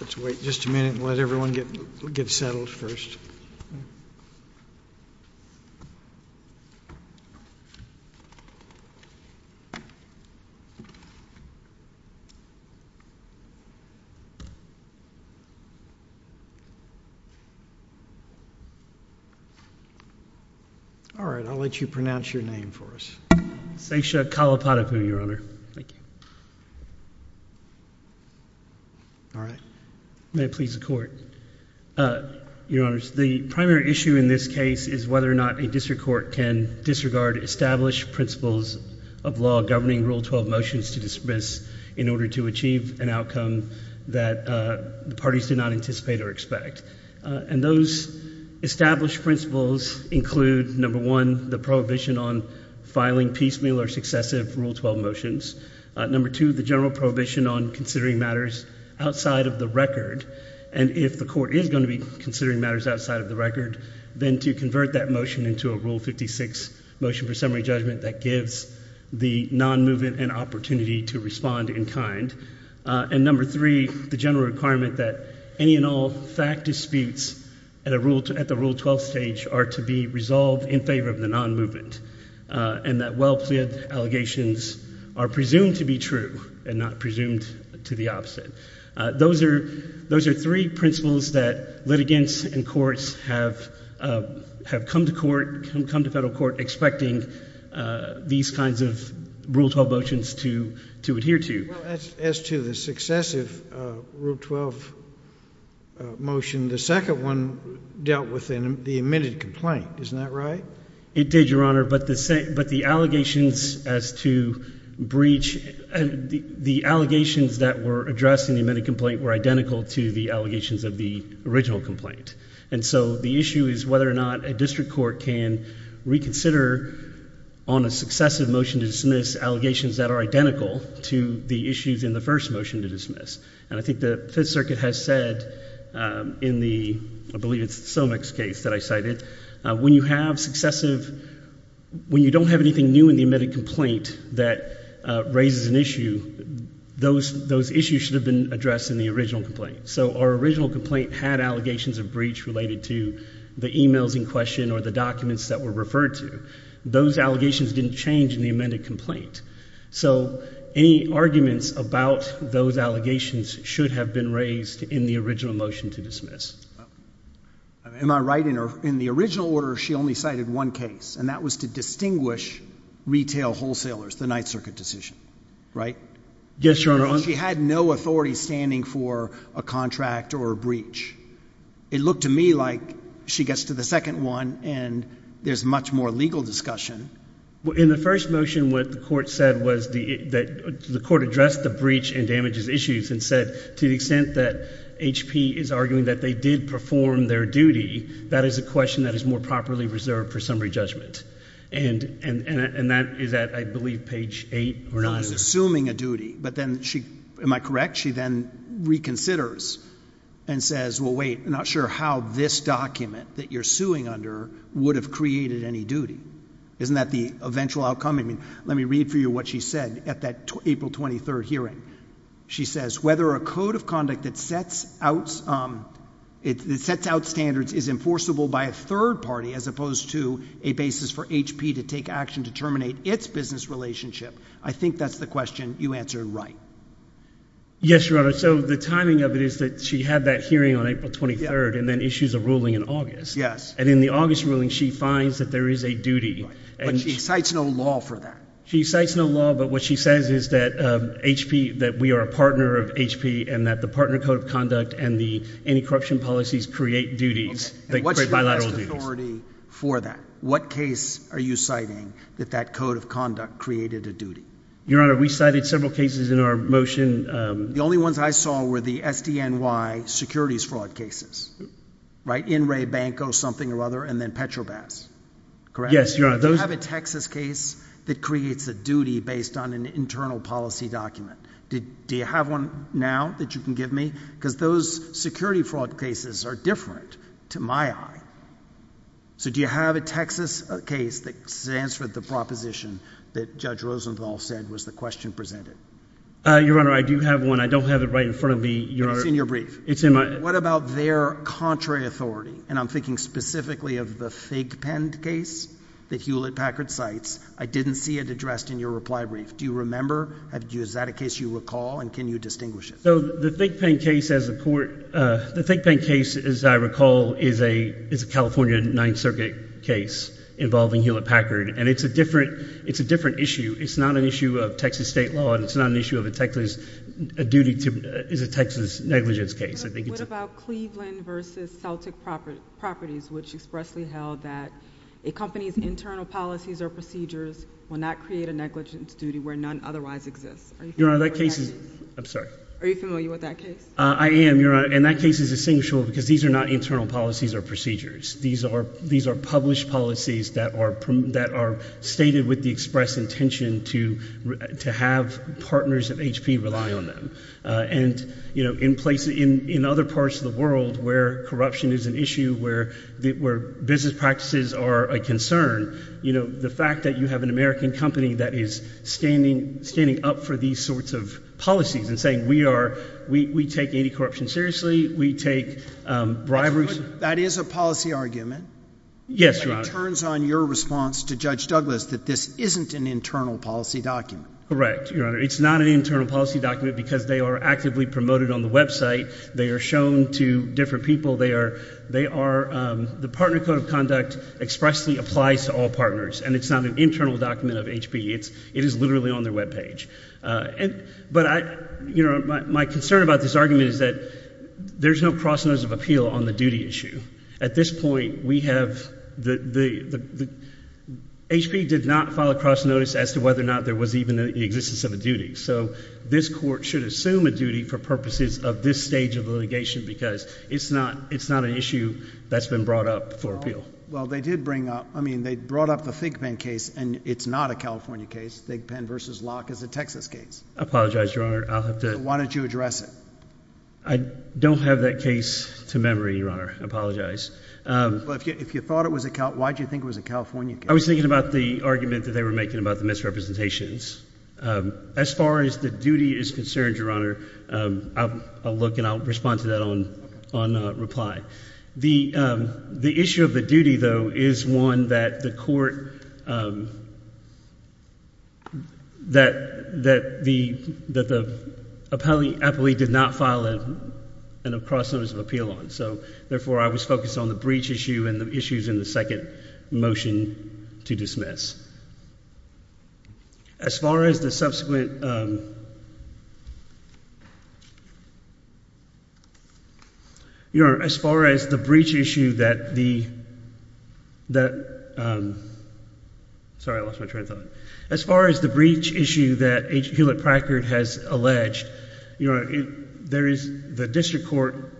Let's wait just a minute and let everyone get settled first. All right, I'll let you pronounce your name for us. Seysha Kalapadipu, Your Honor. Thank you. All right. May it please the Court. Your Honors, the primary issue in this case is whether or not a district court can disregard established principles of law governing Rule 12 motions to dismiss in order to achieve an outcome that the parties do not anticipate or expect. And those established principles include, number one, the prohibition on filing piecemeal or successive Rule 12 motions. Number two, the general prohibition on considering matters outside of the record. And if the court is going to be considering matters outside of the record, then to convert that motion into a Rule 56 motion for summary judgment that gives the non-movement an opportunity to respond in kind. And number three, the general requirement that any and all fact disputes at the Rule 12 stage are to be resolved in favor of the non-movement and that well-pleaded allegations are presumed to be true and not presumed to be opposite. Those are three principles that litigants and courts have come to court, come to federal court expecting these kinds of Rule 12 motions to adhere to. As to the successive Rule 12 motion, the second one dealt with the admitted complaint. Isn't that right? It did, Your Honor. But the allegations as to breach, the allegations that were addressed in the admitted complaint were identical to the allegations of the original complaint. And so the issue is whether or not a district court can reconsider on a successive motion to dismiss allegations that are identical to the issues in the first motion to dismiss. And I think the Fifth Circuit has said in the, I believe it's the Somex case that I cited, when you have successive, when you don't have anything new in the admitted complaint that raises an issue, those issues should have been addressed in the original complaint. So our original complaint had allegations of breach related to the emails in question or the documents that were referred to. Those allegations didn't change in the amended complaint. So any arguments about those allegations should have been raised in the original motion to dismiss. Am I right in the original order she only cited one case, and that was to distinguish retail wholesalers, the Ninth Circuit decision, right? Yes, Your Honor. She had no authority standing for a contract or a breach. It looked to me like she gets to the second one, and there's much more legal discussion. In the first motion, what the court said was that the court addressed the breach and damages issues and said to the extent that HP is arguing that they did perform their duty, that is a question that is more properly reserved for summary judgment. And that is at, I believe, page 8 or 9. She's assuming a duty, but then she, am I correct, she then reconsiders and says, well, wait, I'm not sure how this document that you're suing under would have created any duty. Isn't that the eventual outcome? I mean, let me read for you what she said at that April 23 hearing. She says, whether a code of conduct that sets out standards is enforceable by a third party as opposed to a basis for HP to take action to terminate its business relationship. I think that's the question you answered right. Yes, Your Honor. So the timing of it is that she had that hearing on April 23rd and then issues a ruling in August. Yes. And in the August ruling, she finds that there is a duty. But she cites no law for that. She cites no law, but what she says is that HP, that we are a partner of HP and that the partner code of conduct and the anti-corruption policies create duties. And what's your best authority for that? What case are you citing that that code of conduct created a duty? Your Honor, we cited several cases in our motion. The only ones I saw were the SDNY securities fraud cases. Right. In Ray Banco, something or other, and then Petrobas. Correct? Yes, Your Honor. Do you have a Texas case that creates a duty based on an internal policy document? Do you have one now that you can give me? Because those security fraud cases are different to my eye. So do you have a Texas case that stands for the proposition that Judge Rosenthal said was the question presented? Your Honor, I do have one. I don't have it right in front of me, Your Honor. It's in your brief. It's in my— And I'm thinking specifically of the Thigpen case that Hewlett-Packard cites. I didn't see it addressed in your reply brief. Do you remember? Is that a case you recall, and can you distinguish it? The Thigpen case, as I recall, is a California Ninth Circuit case involving Hewlett-Packard. And it's a different issue. It's not an issue of Texas state law, and it's not an issue of a Texas duty to—it's a Texas negligence case. What about Cleveland v. Celtic Properties, which expressly held that a company's internal policies or procedures will not create a negligence duty where none otherwise exists? Are you familiar with that case? I'm sorry? Are you familiar with that case? I am, Your Honor. And that case is distinguishable because these are not internal policies or procedures. These are published policies that are stated with the express intention to have partners at HP rely on them. And, you know, in places—in other parts of the world where corruption is an issue, where business practices are a concern, you know, the fact that you have an American company that is standing up for these sorts of policies and saying we are—we take anti-corruption seriously, we take bribery— That is a policy argument. Yes, Your Honor. It turns on your response to Judge Douglas that this isn't an internal policy document. Correct, Your Honor. It's not an internal policy document because they are actively promoted on the website. They are shown to different people. They are—the Partner Code of Conduct expressly applies to all partners, and it's not an internal document of HP. It is literally on their webpage. But, you know, my concern about this argument is that there's no cross notice of appeal on the duty issue. At this point, we have the—HP did not file a cross notice as to whether or not there was even the existence of a duty. So this court should assume a duty for purposes of this stage of litigation because it's not an issue that's been brought up for appeal. Well, they did bring up—I mean they brought up the ThinkPen case, and it's not a California case. ThinkPen v. Locke is a Texas case. I apologize, Your Honor. I'll have to— So why don't you address it? I don't have that case to memory, Your Honor. I apologize. Well, if you thought it was a—why did you think it was a California case? I was thinking about the argument that they were making about the misrepresentations. As far as the duty is concerned, Your Honor, I'll look and I'll respond to that on reply. The issue of the duty, though, is one that the court—that the appellee did not file a cross notice of appeal on. So, therefore, I was focused on the breach issue and the issues in the second motion to dismiss. As far as the subsequent—Your Honor, as far as the breach issue that the—sorry, I lost my train of thought. As far as the breach issue that Hewlett-Packard has alleged, Your Honor, there is—the district court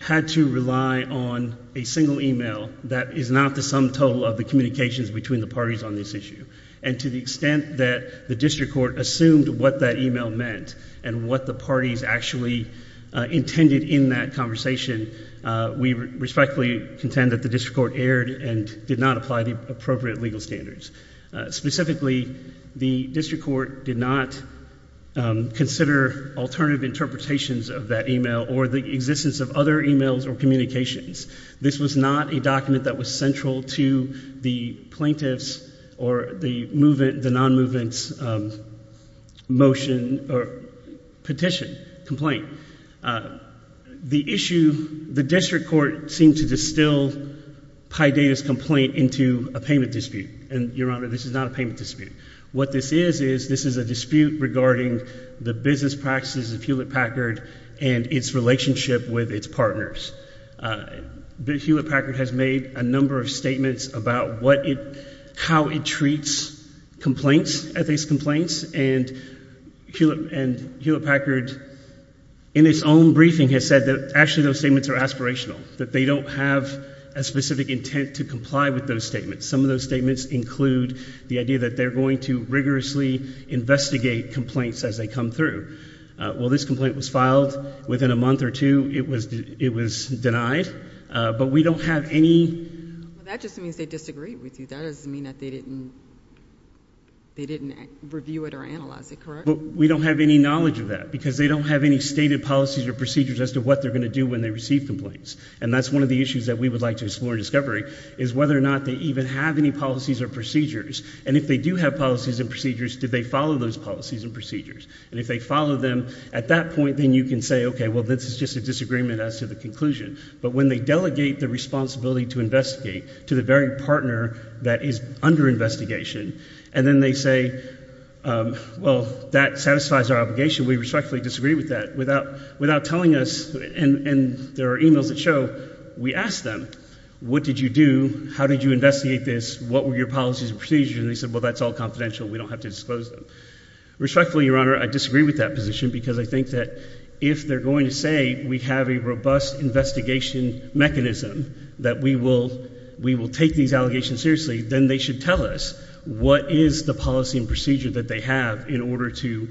had to rely on a single email that is not the sum total of the communications between the parties on this issue. And to the extent that the district court assumed what that email meant and what the parties actually intended in that conversation, we respectfully contend that the district court erred and did not apply the appropriate legal standards. Specifically, the district court did not consider alternative interpretations of that email or the existence of other emails or communications. This was not a document that was central to the plaintiff's or the non-movement's motion or petition, complaint. The issue—the district court seemed to distill Paidita's complaint into a payment dispute. And, Your Honor, this is not a payment dispute. What this is is this is a dispute regarding the business practices of Hewlett-Packard and its relationship with its partners. Hewlett-Packard has made a number of statements about what it—how it treats complaints, ethics complaints. And Hewlett-Packard, in its own briefing, has said that actually those statements are aspirational, that they don't have a specific intent to comply with those statements. Some of those statements include the idea that they're going to rigorously investigate complaints as they come through. Well, this complaint was filed within a month or two. It was denied. But we don't have any— That just means they disagreed with you. That doesn't mean that they didn't—they didn't review it or analyze it, correct? But we don't have any knowledge of that because they don't have any stated policies or procedures as to what they're going to do when they receive complaints. And that's one of the issues that we would like to explore in discovery is whether or not they even have any policies or procedures. And if they do have policies and procedures, do they follow those policies and procedures? And if they follow them, at that point, then you can say, okay, well, this is just a disagreement as to the conclusion. But when they delegate the responsibility to investigate to the very partner that is under investigation, and then they say, well, that satisfies our obligation, we respectfully disagree with that, without telling us—and there are e-mails that show—we ask them, what did you do? How did you investigate this? What were your policies and procedures? And they say, well, that's all confidential. We don't have to disclose them. Respectfully, Your Honor, I disagree with that position because I think that if they're going to say we have a robust investigation mechanism that we will take these allegations seriously, then they should tell us what is the policy and procedure that they have in order to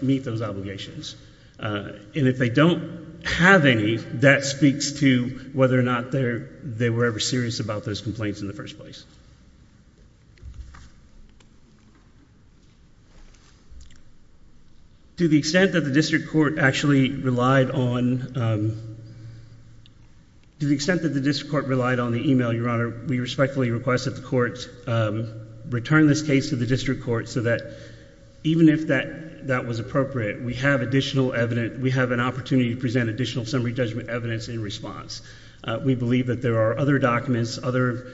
meet those obligations. And if they don't have any, that speaks to whether or not they were ever serious about those complaints in the first place. To the extent that the district court actually relied on—to the extent that the district court relied on the e-mail, Your Honor, we respectfully request that the court return this case to the district court so that even if that was appropriate, we have additional evidence—we have an opportunity to present additional summary judgment evidence in response. We believe that there are other documents, other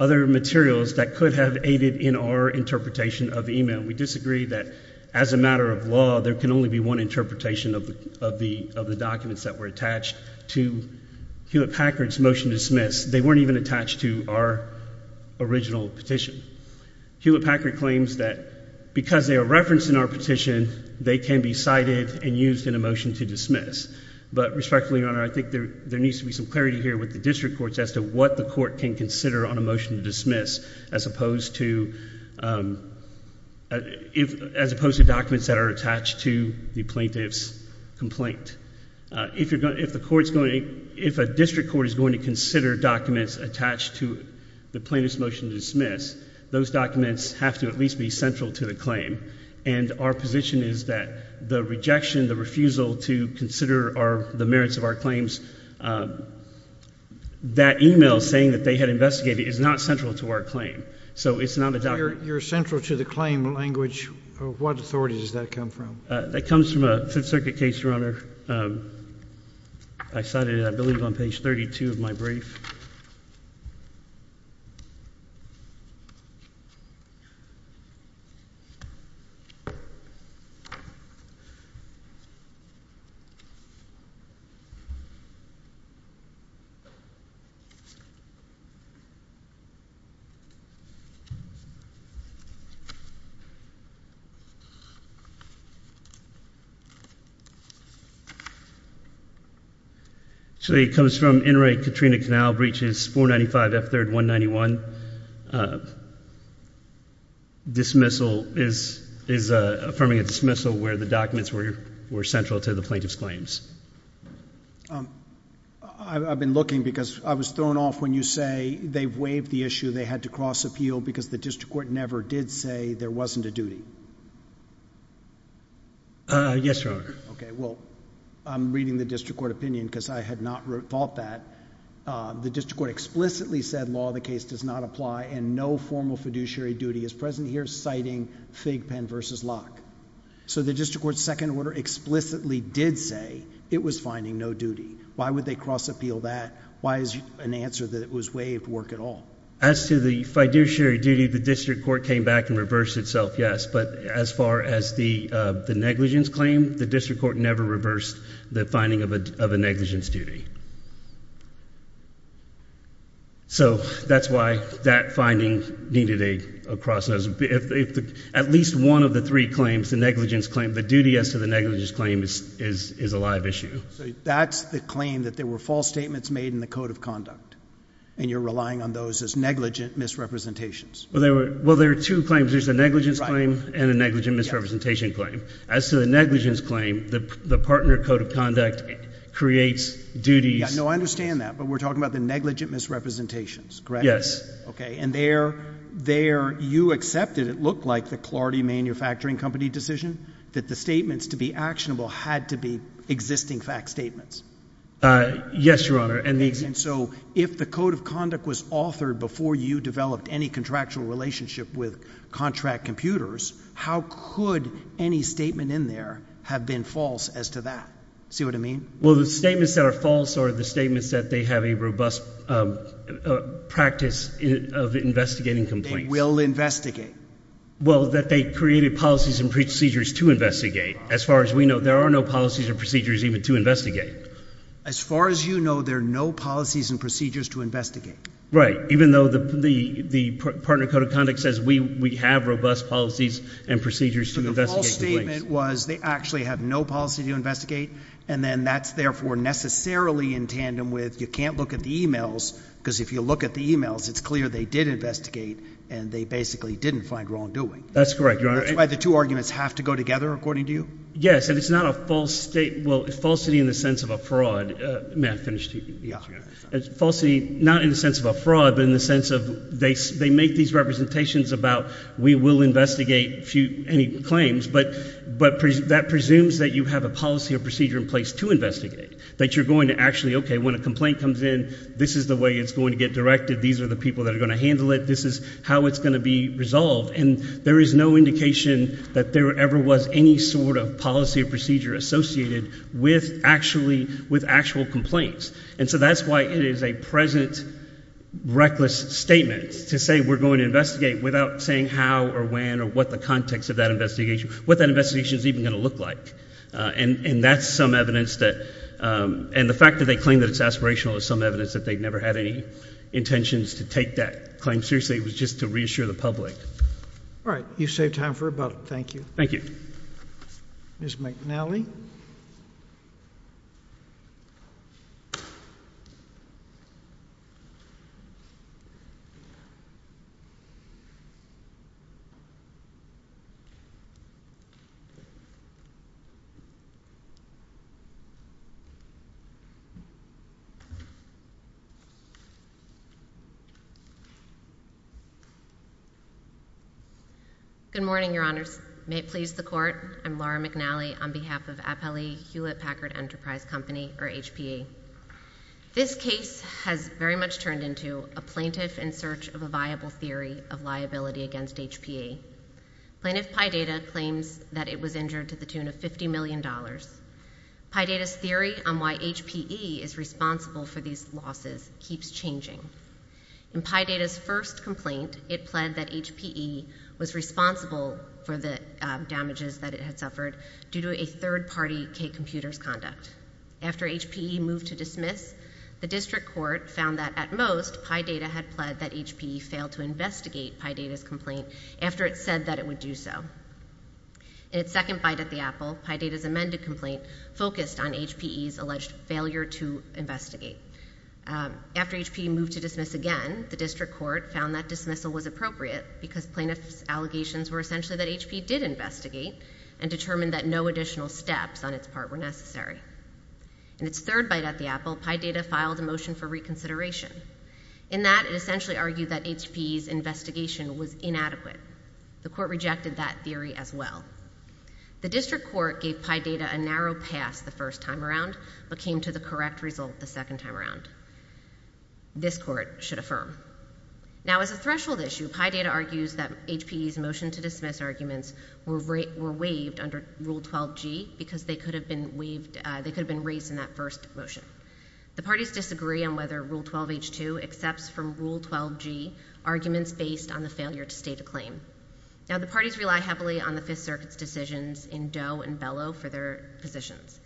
materials that could have aided in our interpretation of the e-mail. We disagree that as a matter of law, there can only be one interpretation of the documents that were attached to Hewlett-Packard's motion to dismiss. They weren't even attached to our original petition. Hewlett-Packard claims that because they are referenced in our petition, they can be cited and used in a motion to dismiss. But respectfully, Your Honor, I think there needs to be some clarity here with the district courts as to what the court can consider on a motion to dismiss as opposed to documents that are attached to the plaintiff's complaint. If a district court is going to consider documents attached to the plaintiff's motion to dismiss, those documents have to at least be central to the claim. And our position is that the rejection, the refusal to consider the merits of our claims, that e-mail saying that they had investigated is not central to our claim. So it's not a document— You're central to the claim language. What authority does that come from? That comes from a Fifth Circuit case, Your Honor. Actually, it comes from Inmate Katrina Canal Breaches, 495 F. 3rd, 191. Dismissal is affirming a dismissal where the documents were central to the plaintiff's claims. I've been looking because I was thrown off when you say they've waived the issue, they had to cross-appeal because the district court never did say there wasn't a duty. Yes, Your Honor. Okay, well, I'm reading the district court opinion because I had not thought that. The district court explicitly said law of the case does not apply and no formal fiduciary duty is present here citing Fig Penn v. Locke. So the district court's second order explicitly did say it was finding no duty. Why would they cross-appeal that? Why is an answer that it was waived work at all? As to the fiduciary duty, the district court came back and reversed itself, yes, but as far as the negligence claim, the district court never reversed the finding of a negligence duty. So that's why that finding needed a cross. At least one of the three claims, the negligence claim, the duty as to the negligence claim is a live issue. So that's the claim that there were false statements made in the Code of Conduct and you're relying on those as negligent misrepresentations. Well, there are two claims. There's a negligence claim and a negligent misrepresentation claim. As to the negligence claim, the partner Code of Conduct creates duties. No, I understand that, but we're talking about the negligent misrepresentations, correct? Yes. Okay, and there you accepted it looked like the Clardy Manufacturing Company decision that the statements to be actionable had to be existing fact statements. Yes, Your Honor. And so if the Code of Conduct was authored before you developed any contractual relationship with contract computers, how could any statement in there have been false as to that? See what I mean? Well, the statements that are false are the statements that they have a robust practice of investigating complaints. They will investigate. Well, that they created policies and procedures to investigate. As far as we know, there are no policies or procedures even to investigate. As far as you know, there are no policies and procedures to investigate. Right, even though the partner Code of Conduct says we have robust policies and procedures to investigate complaints. But the false statement was they actually have no policy to investigate, and then that's therefore necessarily in tandem with you can't look at the e-mails because if you look at the e-mails, it's clear they did investigate and they basically didn't find wrongdoing. That's correct, Your Honor. That's why the two arguments have to go together, according to you? Yes, and it's not a false statement. Well, falsity in the sense of a fraud. May I finish, Chief? Yes, Your Honor. Falsity not in the sense of a fraud, but in the sense of they make these representations about we will investigate any claims, but that presumes that you have a policy or procedure in place to investigate, that you're going to actually, okay, when a complaint comes in, this is the way it's going to get directed. These are the people that are going to handle it. This is how it's going to be resolved. And there is no indication that there ever was any sort of policy or procedure associated with actual complaints. And so that's why it is a present reckless statement to say we're going to investigate without saying how or when or what the context of that investigation, what that investigation is even going to look like. And that's some evidence that, and the fact that they claim that it's aspirational is some evidence that they never had any intentions to take that claim seriously. It was just to reassure the public. All right. You saved time for rebuttal. Thank you. Thank you. Ms. McNally. Good morning, Your Honors. May it please the Court. I'm Laura McNally on behalf of Appellee Hewlett Packard Enterprise Company, or HPE. This case has very much turned into a plaintiff in search of a viable theory of liability against HPE. Plaintiff Piedata claims that it was injured to the tune of $50 million. Piedata's theory on why HPE is responsible for these losses keeps changing. In Piedata's first complaint, it pled that HPE was responsible for the damages that it had suffered due to a third-party K-computers conduct. After HPE moved to dismiss, the district court found that, at most, Piedata had pled that HPE failed to investigate Piedata's complaint after it said that it would do so. In its second bite at the apple, Piedata's amended complaint focused on HPE's alleged failure to investigate. After HPE moved to dismiss again, the district court found that dismissal was appropriate because plaintiff's allegations were essentially that HPE did investigate and determined that no additional steps on its part were necessary. In its third bite at the apple, Piedata filed a motion for reconsideration. In that, it essentially argued that HPE's investigation was inadequate. The court rejected that theory as well. The district court gave Piedata a narrow pass the first time around but came to the correct result the second time around. This court should affirm. Now, as a threshold issue, Piedata argues that HPE's motion to dismiss arguments were waived under Rule 12g because they could have been raised in that first motion. The parties disagree on whether Rule 12h-2 accepts from Rule 12g arguments based on the failure to state a claim. Now, the parties rely heavily on the Fifth Circuit's decisions in Doe and Bellow for their positions.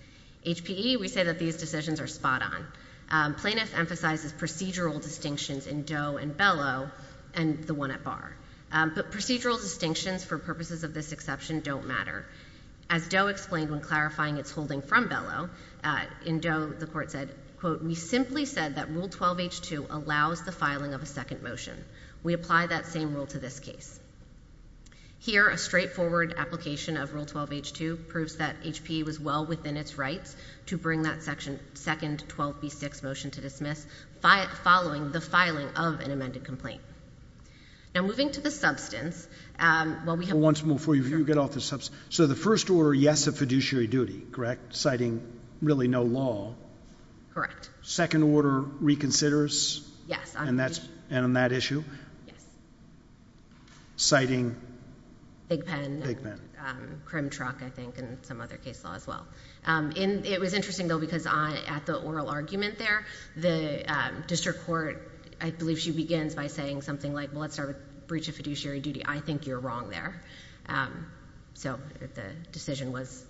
HPE, we say that these decisions are spot on. Plaintiff emphasizes procedural distinctions in Doe and Bellow and the one at Barr. But procedural distinctions for purposes of this exception don't matter. As Doe explained when clarifying its holding from Bellow, in Doe the court said, quote, we simply said that Rule 12h-2 allows the filing of a second motion. We apply that same rule to this case. Here, a straightforward application of Rule 12h-2 proves that HPE was well within its rights to bring that second 12b-6 motion to dismiss following the filing of an amended complaint. Now, moving to the substance. Well, once more before you get off the substance. So the first order yes of fiduciary duty, correct, citing really no law. Second order reconsiders? Yes. And on that issue? Yes. Citing? Bigpen. Crim truck, I think, and some other case law as well. It was interesting, though, because at the oral argument there, the district court, I believe she begins by saying something like, well, let's start with breach of fiduciary duty. I think you're wrong there. So the decision was?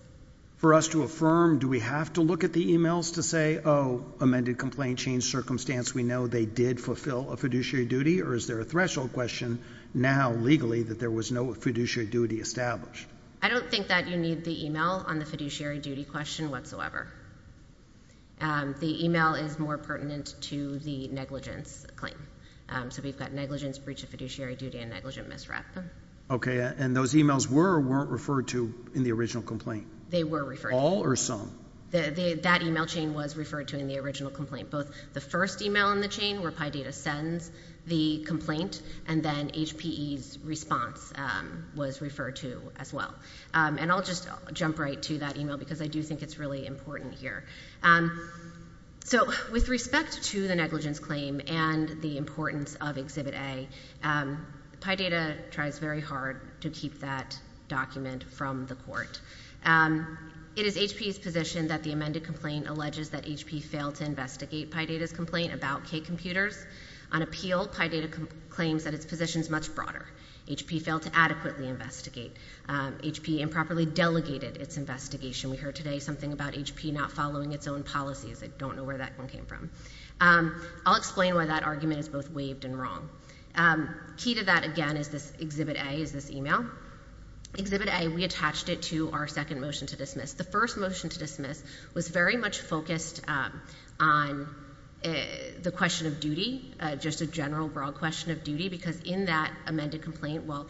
For us to affirm, do we have to look at the emails to say, oh, amended complaint, changed circumstance, we know they did fulfill a fiduciary duty, or is there a threshold question now legally that there was no fiduciary duty established? I don't think that you need the email on the fiduciary duty question whatsoever. The email is more pertinent to the negligence claim. So we've got negligence, breach of fiduciary duty, and negligent misrep. Okay. And those emails were or weren't referred to in the original complaint? They were referred to. All or some? That email chain was referred to in the original complaint. Both the first email in the chain where PIDATA sends the complaint, and then HPE's response was referred to as well. And I'll just jump right to that email because I do think it's really important here. So with respect to the negligence claim and the importance of Exhibit A, PIDATA tries very hard to keep that document from the court. It is HPE's position that the amended complaint alleges that HPE failed to investigate PIDATA's complaint about K computers. On appeal, PIDATA claims that its position is much broader. HPE failed to adequately investigate. HPE improperly delegated its investigation. We heard today something about HPE not following its own policies. I don't know where that one came from. I'll explain why that argument is both waived and wrong. Key to that, again, is this Exhibit A, is this email. Exhibit A, we attached it to our second motion to dismiss. The first motion to dismiss was very much focused on the question of duty, just a general, broad question of duty, because in that amended complaint, while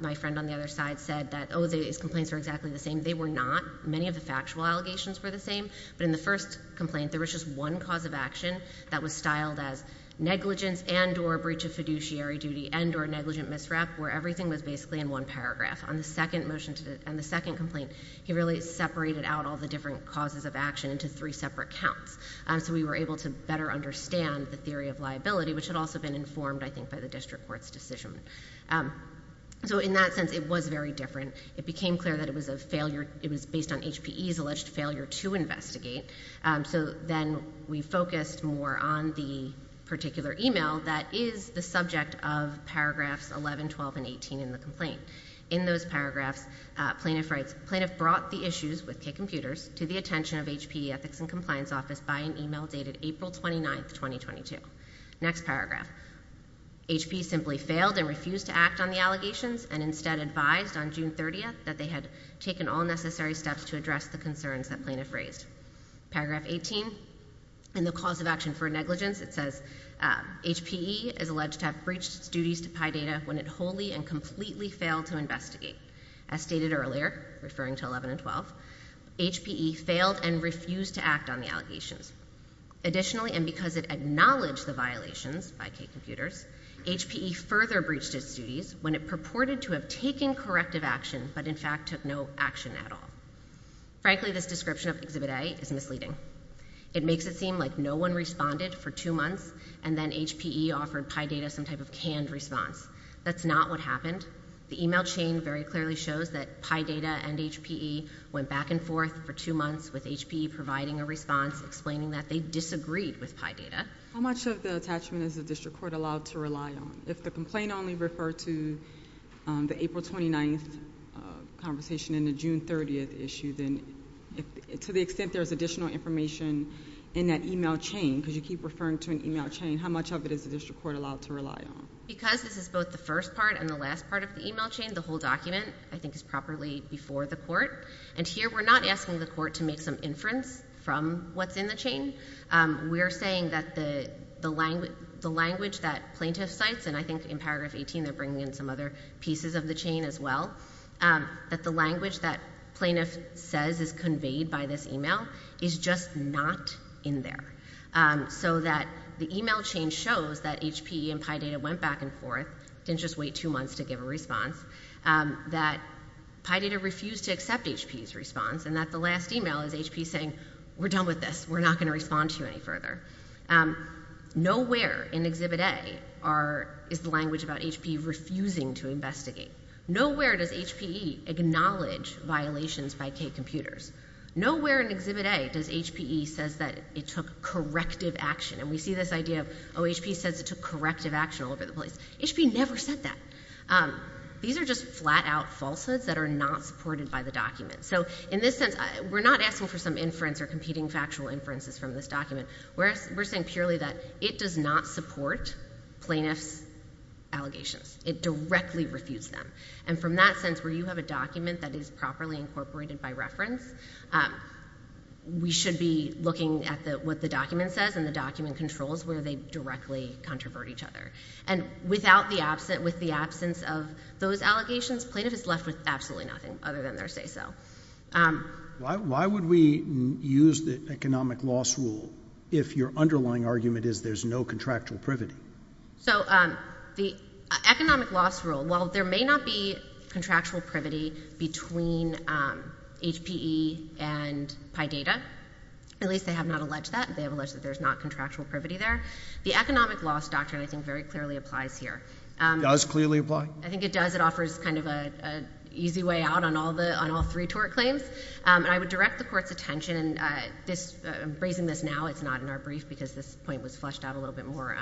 my friend on the other side said that, oh, these complaints are exactly the same, they were not. Many of the factual allegations were the same. But in the first complaint, there was just one cause of action that was styled as negligence and or breach of fiduciary duty and or negligent misrep where everything was basically in one paragraph. On the second motion and the second complaint, he really separated out all the different causes of action into three separate counts. So we were able to better understand the theory of liability, which had also been informed, I think, by the district court's decision. So in that sense, it was very different. It became clear that it was based on HPE's alleged failure to investigate. So then we focused more on the particular email that is the subject of paragraphs 11, 12, and 18 in the complaint. In those paragraphs, plaintiff writes, plaintiff brought the issues with K computers to the attention of HPE ethics and compliance office by an email dated April 29, 2022. Next paragraph. HPE simply failed and refused to act on the allegations and instead advised on June 30th that they had taken all necessary steps to address the concerns that plaintiff raised. Paragraph 18, in the cause of action for negligence, it says, HPE is alleged to have breached its duties to PIDATA when it wholly and completely failed to investigate. As stated earlier, referring to 11 and 12, HPE failed and refused to act on the allegations. Additionally, and because it acknowledged the violations by K computers, HPE further breached its duties when it purported to have taken corrective action but in fact took no action at all. Frankly, this description of Exhibit A is misleading. It makes it seem like no one responded for two months and then HPE offered PIDATA some type of canned response. That's not what happened. The email chain very clearly shows that PIDATA and HPE went back and forth for two months with HPE providing a response explaining that they disagreed with PIDATA. How much of the attachment is the district court allowed to rely on? If the complaint only referred to the April 29th conversation and the June 30th issue, to the extent there is additional information in that email chain because you keep referring to an email chain, how much of it is the district court allowed to rely on? Because this is both the first part and the last part of the email chain, the whole document I think is properly before the court. And here we're not asking the court to make some inference from what's in the chain. We're saying that the language that plaintiff cites, and I think in paragraph 18 they're bringing in some other pieces of the chain as well, that the language that plaintiff says is conveyed by this email is just not in there. So that the email chain shows that HPE and PIDATA went back and forth, didn't just wait two months to give a response, that PIDATA refused to accept HPE's response and that the last email is HPE saying, we're done with this, we're not going to respond to you any further. Nowhere in Exhibit A is the language about HPE refusing to investigate. Nowhere does HPE acknowledge violations by K computers. Nowhere in Exhibit A does HPE say that it took corrective action. And we see this idea of, oh, HPE says it took corrective action all over the place. HPE never said that. These are just flat-out falsehoods that are not supported by the document. So in this sense, we're not asking for some inference or competing factual inferences from this document. We're saying purely that it does not support plaintiff's allegations. It directly refutes them. And from that sense, where you have a document that is properly incorporated by reference, we should be looking at what the document says and the document controls where they directly controvert each other. And with the absence of those allegations, plaintiff is left with absolutely nothing other than their say-so. Why would we use the economic loss rule if your underlying argument is there's no contractual privity? So the economic loss rule, while there may not be contractual privity between HPE and PIDATA, at least they have not alleged that. They have alleged that there's not contractual privity there. The economic loss doctrine, I think, very clearly applies here. Does clearly apply? I think it does. It offers kind of an easy way out on all three tort claims. And I would direct the Court's attention, and I'm raising this now, it's not in our brief, because this point was fleshed out a little bit more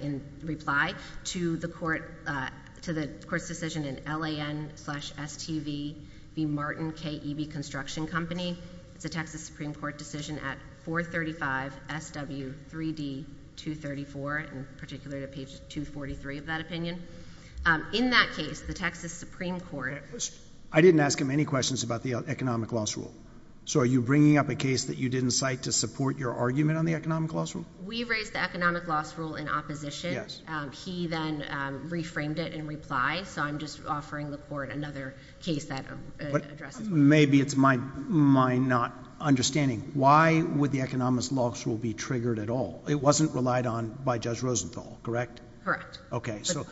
in reply, to the Court's decision in LAN-STV v. Martin K.E.B. Construction Company. It's a Texas Supreme Court decision at 435 SW 3D 234, and particularly at page 243 of that opinion. In that case, the Texas Supreme Court... I didn't ask him any questions about the economic loss rule. So are you bringing up a case that you didn't cite to support your argument on the economic loss rule? We raised the economic loss rule in opposition. He then reframed it in reply, so I'm just offering the Court another case that addresses... Maybe it's my not understanding. Why would the economic loss rule be triggered at all? It wasn't relied on by Judge Rosenthal, correct? Correct. Okay, so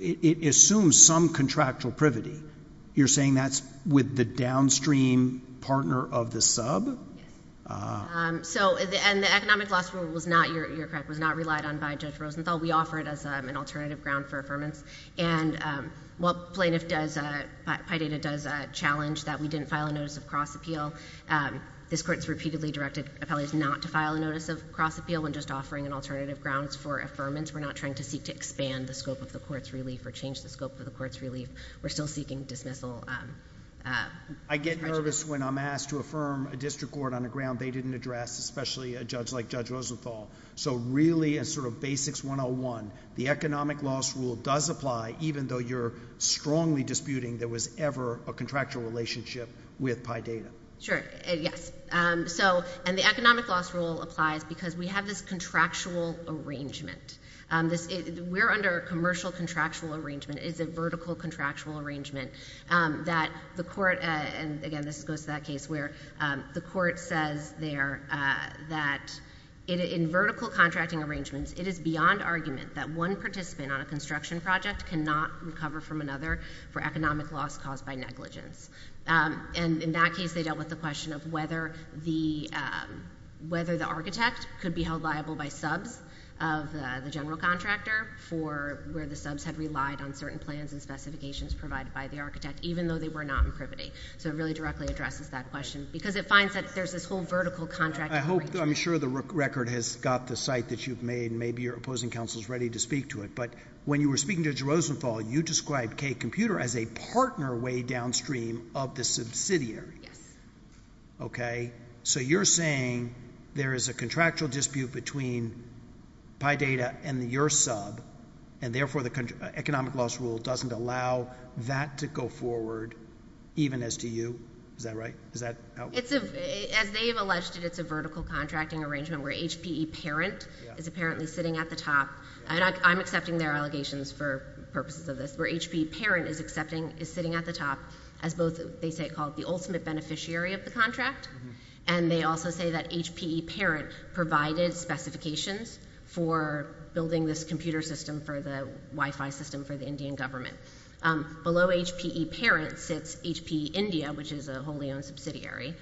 it assumes some contractual privity. You're saying that's with the downstream partner of the sub? Yes. Ah. And the economic loss rule was not, you're correct, was not relied on by Judge Rosenthal. We offer it as an alternative ground for affirmance. And while Plaintiff does... PIDATA does challenge that we didn't file a notice of cross-appeal, this Court's repeatedly directed appellees not to file a notice of cross-appeal when just offering an alternative grounds for affirmance. We're not trying to seek to expand the scope of the Court's relief or change the scope of the Court's relief. We're still seeking dismissal. I get nervous when I'm asked to affirm a district court on a ground they didn't address, especially a judge like Judge Rosenthal. So really, in sort of Basics 101, the economic loss rule does apply even though you're strongly disputing there was ever a contractual relationship with PIDATA. Sure, yes. And the economic loss rule applies because we have this contractual arrangement. We're under a commercial contractual arrangement. It's a vertical contractual arrangement that the Court... And again, this goes to that case where the Court says there that in vertical contracting arrangements, it is beyond argument that one participant on a construction project cannot recover from another for economic loss caused by negligence. And in that case, they dealt with the question of whether the architect could be held liable by subs of the general contractor for where the subs had relied on certain plans and specifications provided by the architect, even though they were not in privity. So it really directly addresses that question because it finds that there's this whole vertical contract... I'm sure the record has got the cite that you've made. Maybe your opposing counsel is ready to speak to it. But when you were speaking to Judge Rosenthal, you described K Computer as a partner way downstream of the subsidiary. Yes. Okay, so you're saying there is a contractual dispute between PIDATA and your sub, and therefore the economic loss rule doesn't allow that to go forward, even as to you. Is that right? As they have alleged it, it's a vertical contracting arrangement where HPE Parent is apparently sitting at the top. And I'm accepting their allegations for purposes of this, where HPE Parent is sitting at the top as both, they say, called the ultimate beneficiary of the contract, and they also say that HPE Parent provided specifications for building this computer system for the Wi-Fi system for the Indian government. Below HPE Parent sits HPE India, which is a wholly owned subsidiary.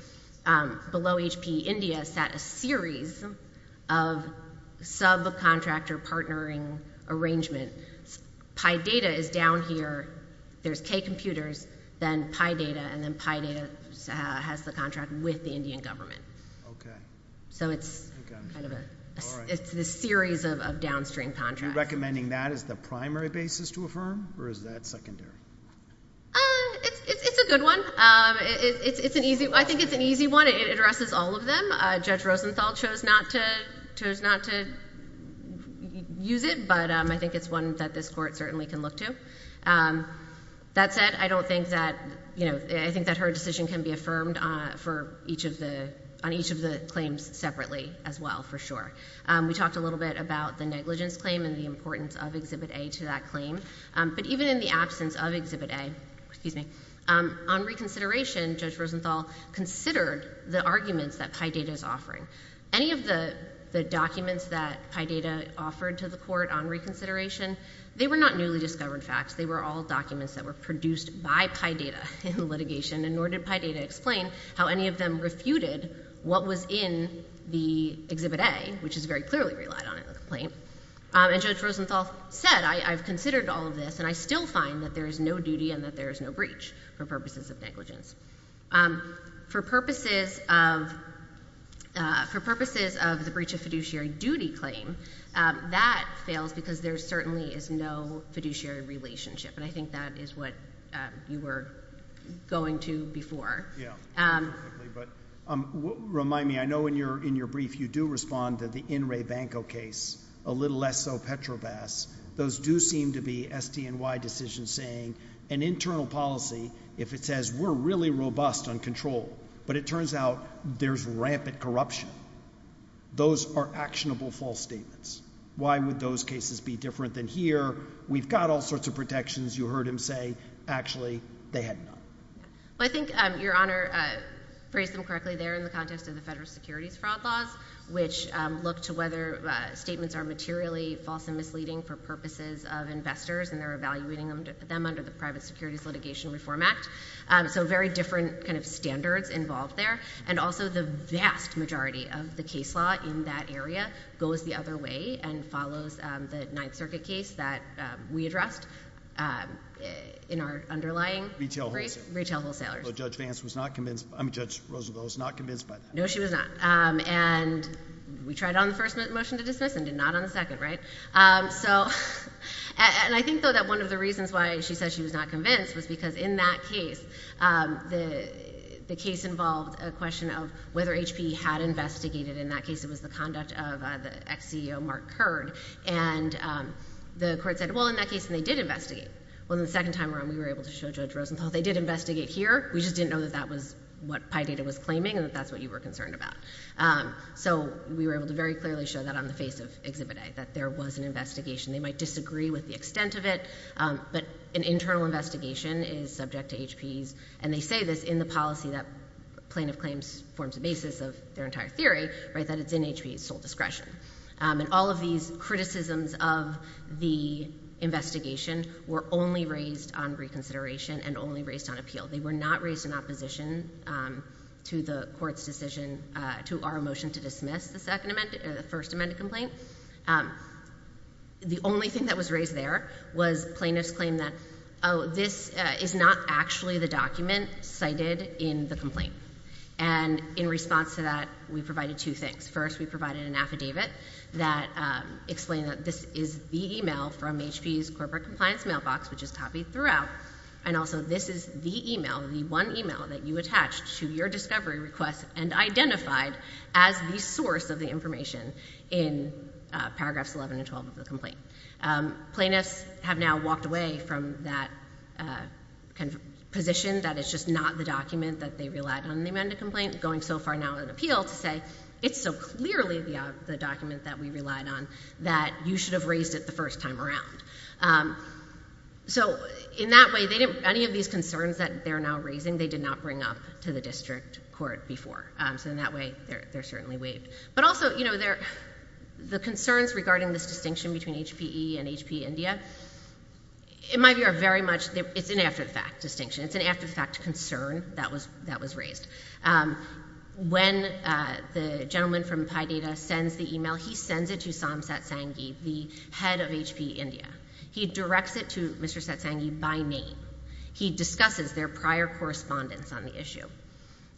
Below HPE India sat a series of subcontractor partnering arrangements. PIDATA is down here. There's K Computers, then PIDATA, and then PIDATA has the contract with the Indian government. Okay. So it's kind of a series of downstream contracts. Are you recommending that as the primary basis to affirm, or is that secondary? It's a good one. I think it's an easy one. It addresses all of them. Judge Rosenthal chose not to use it, but I think it's one that this Court certainly can look to. That said, I don't think that her decision can be affirmed on each of the claims separately as well, for sure. We talked a little bit about the negligence claim and the importance of Exhibit A to that claim, but even in the absence of Exhibit A, on reconsideration, Judge Rosenthal considered the arguments that PIDATA is offering. Any of the documents that PIDATA offered to the Court on reconsideration, they were not newly discovered facts. They were all documents that were produced by PIDATA in litigation, and nor did PIDATA explain how any of them refuted what was in the Exhibit A, which is very clearly relied on in the complaint. And Judge Rosenthal said, I've considered all of this and I still find that there is no duty and that there is no breach for purposes of negligence. For purposes of the breach of fiduciary duty claim, that fails because there certainly is no fiduciary relationship, and I think that is what you were going to before. Remind me, I know in your brief you do respond to the In Re Banco case, a little less so Petrobas. Those do seem to be SDNY decisions saying an internal policy, if it says we're really robust on control, but it turns out there's rampant corruption. Those are actionable false statements. Why would those cases be different than here? We've got all sorts of protections. You heard him say, actually, they had none. I think, Your Honor, phrased them correctly there in the context of the federal securities fraud laws, which look to whether statements are materially false and misleading for purposes of investors, and they're evaluating them under the Private Securities Litigation Reform Act. So very different kind of standards involved there, and also the vast majority of the case law in that area goes the other way and follows the Ninth Circuit case that we addressed in our underlying retail wholesalers. But Judge Vance was not convinced by that. I mean, Judge Rosenthal was not convinced by that. No, she was not. And we tried on the first motion to dismiss and did not on the second, right? And I think, though, that one of the reasons why she said she was not convinced was because in that case, the case involved a question of whether HP had investigated. In that case, it was the conduct of the ex-CEO, Mark Curd, and the court said, well, in that case, they did investigate. Well, the second time around, we were able to show Judge Rosenthal they did investigate here. We just didn't know that that was what PIDATA was claiming and that that's what you were concerned about. So we were able to very clearly show that on the face of Exhibit A, that there was an investigation. They might disagree with the extent of it, but an internal investigation is subject to HP's, and they say this in the policy that plaintiff claims forms the basis of their entire theory, that it's in HP's sole discretion. And all of these criticisms of the investigation were only raised on reconsideration and only raised on appeal. They were not raised in opposition to the court's decision to our motion to dismiss the first amended complaint. The only thing that was raised there was plaintiff's claim that, oh, this is not actually the document cited in the complaint. And in response to that, we provided two things. First, we provided an affidavit that explained that this is the email from HP's corporate compliance mailbox, which is copied throughout. And also, this is the email, the one email that you attached to your discovery request and identified as the source of the information in paragraphs 11 and 12 of the complaint. Plaintiffs have now walked away from that position that it's just not the document that they relied on in the amended complaint, going so far now in appeal to say, it's so clearly the document that we relied on that you should have raised it the first time around. So, in that way, any of these concerns that they're now raising, they did not bring up to the district court before. So in that way, they're certainly waived. But also, the concerns regarding this distinction between HPE and HP India, it's an after-the-fact distinction. It's an after-the-fact concern that was raised. When the gentleman from PIDATA sends the email, he sends it to Sam Satsangi, the head of HPE India. He directs it to Mr. Satsangi by name. He discusses their prior correspondence on the issue.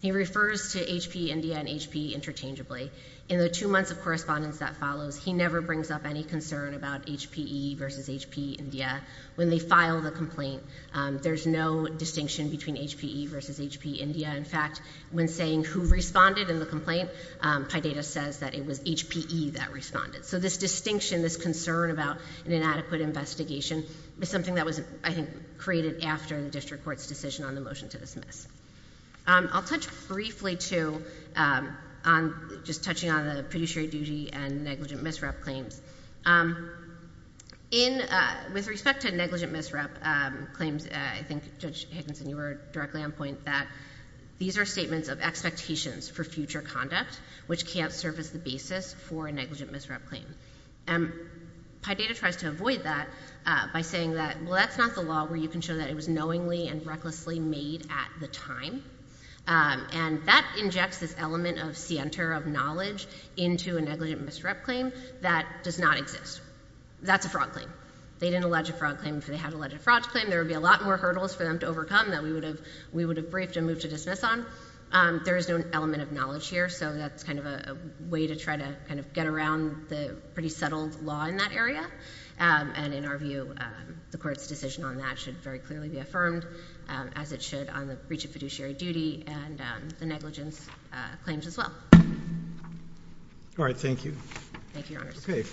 He refers to HPE India and HPE interchangeably. In the two months of correspondence that follows, he never brings up any concern about HPE versus HPE India when they file the complaint. There's no distinction between HPE versus HP India. In fact, when saying who responded in the complaint, PIDATA says that it was HPE that responded. So this distinction, this concern about an inadequate investigation is something that was, I think, created after the district court's decision on the motion to dismiss. I'll touch briefly, too, on just touching on the fiduciary duty and negligent misrep claims. With respect to negligent misrep claims, I think Judge Higginson, you were directly on point that these are statements of expectations for future conduct which can't serve as the basis for a negligent misrep claim. PIDATA tries to avoid that by saying that, well, that's not the law where you can show that it was knowingly and recklessly made at the time. And that injects this element of scienter, of knowledge into a negligent misrep claim that does not exist. That's a fraud claim. They didn't allege a fraud claim if they had alleged a fraud claim. There would be a lot more hurdles for them to overcome that we would have briefed and moved to dismiss on. There is no element of knowledge here, so that's kind of a way to try to get around the pretty settled law in that area. And in our view, the court's decision on that should very clearly be affirmed as it should on the breach of fiduciary duty and the negligence claims as well. All right. Thank you. Thank you, Your Honor. Thank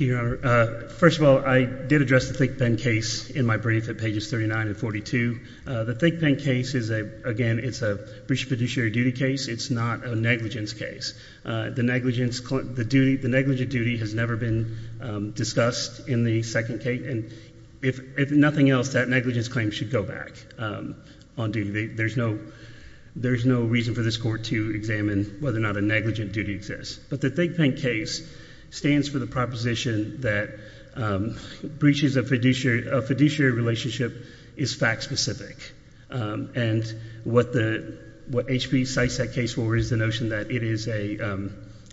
you, Your Honor. First of all, I did address the ThinkPen case in my brief at pages 39 and 42. The ThinkPen case is, again, it's a breach of fiduciary duty case. It's not a negligence case. The negligent duty has never been discussed in the second case. If nothing else, that negligence claim should go back on duty. There's no reason for this Court to examine whether or not a negligent duty exists. But the ThinkPen case stands for the proposition that breaches of fiduciary relationship is fact specific. And what HB cites that case for is the notion that it is a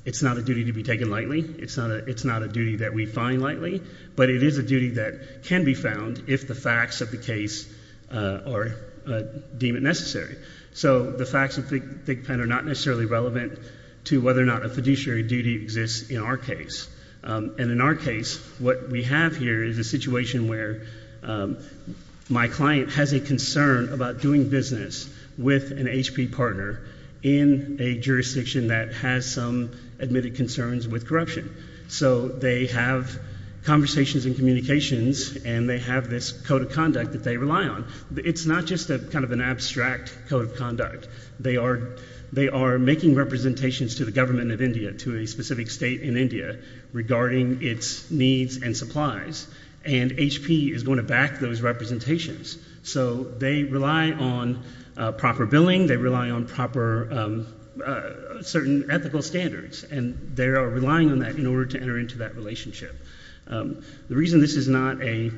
it's not a duty to be taken lightly. It's not a duty that we find lightly. But it is a duty that can be found if the facts of the case are deemed necessary. So the facts of ThinkPen are not necessarily relevant to whether or not a fiduciary duty exists in our case. And in our case, what we have here is a situation where my client has a concern about doing business with an HP partner in a jurisdiction that has some admitted concerns with corruption. So they have conversations and communications, and they have this code of conduct that they rely on. It's not just kind of an abstract code of conduct. They are making representations to the government of India, to a specific state in India, regarding its needs and supplies. And HP is going to back those representations. So they rely on proper billing. They rely on proper certain ethical standards. And they are relying on that in order to enter into that relationship. The reason this is not a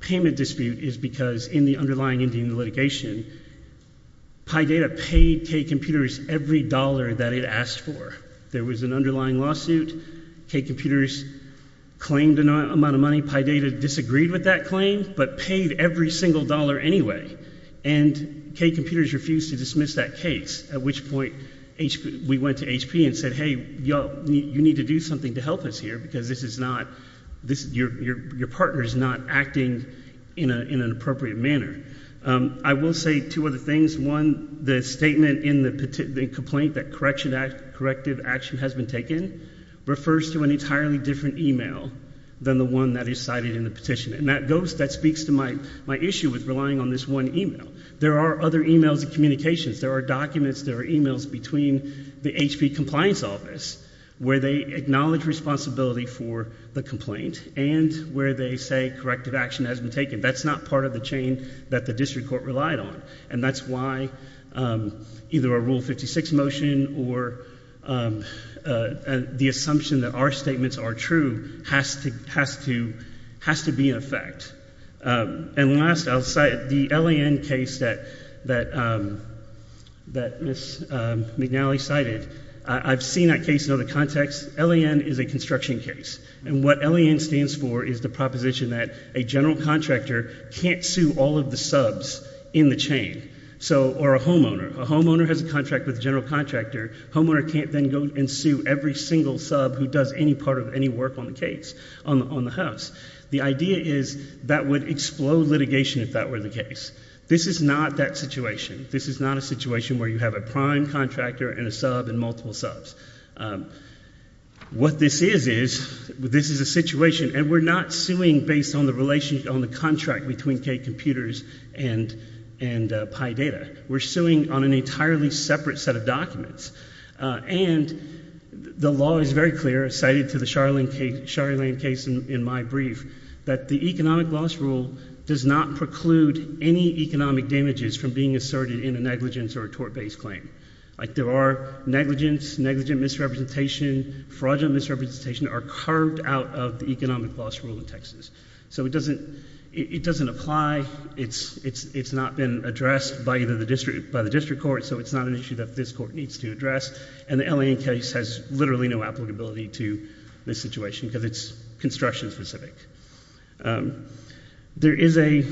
payment dispute is because in the underlying Indian litigation, PyData paid K computers every dollar that it asked for. There was an underlying lawsuit. K computers claimed an amount of money. PyData disagreed with that claim, but paid every single dollar anyway. And K computers refused to dismiss that case, at which point we went to HP and said, hey, you need to do something to help us here, because your partner is not acting in an appropriate manner. I will say two other things. One, the statement in the complaint that corrective action has been taken refers to an entirely different email than the one that is cited in the petition. And that speaks to my issue with relying on this one email. There are other emails and communications. There are documents, there are emails between the HP compliance office where they acknowledge responsibility for the complaint, and where they say corrective action has been taken. That's not part of the chain that the district court relied on. And that's why either a Article 56 motion or the assumption that our statements are true has to be in effect. And last, I'll cite the L.A.N. case that Ms. McNally cited. I've seen that case in other contexts. L.A.N. is a construction case. And what L.A.N. stands for is the proposition that a general contractor can't sue all of the subs in the chain. Or a homeowner. A homeowner has a contract with a general contractor. Homeowner can't then go and sue every single sub who does any part of any work on the case, on the house. The idea is that would explode litigation if that were the case. This is not that situation. This is not a situation where you have a prime contractor and a sub and multiple subs. What this is, is this is a situation and we're not suing based on the contract between K We're not suing based on high data. We're suing on an entirely separate set of documents. And the law is very clear, cited to the Charlene case in my brief, that the economic loss rule does not preclude any economic damages from being asserted in a negligence or a tort-based claim. There are negligence, negligent misrepresentation, fraudulent misrepresentation are carved out of the case by the district court so it's not an issue that this court needs to address. And the L.A.N. case has literally no applicability to this situation because it's construction specific. There is a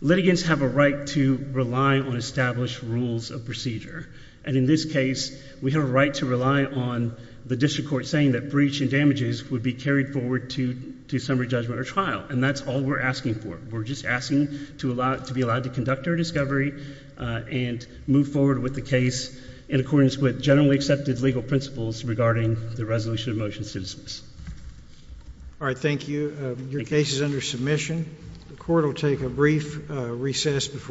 litigants have a right to rely on established rules of procedure. And in this case, we have a right to rely on the district court saying that breach and damages would be carried forward to summary judgment or trial. And that's all we're asking for. We're just asking to be allowed to conduct our discovery and move forward with the case in accordance with generally accepted legal principles regarding the resolution of motion citizens. Alright, thank you. Your case is under submission. The court will take a brief recess before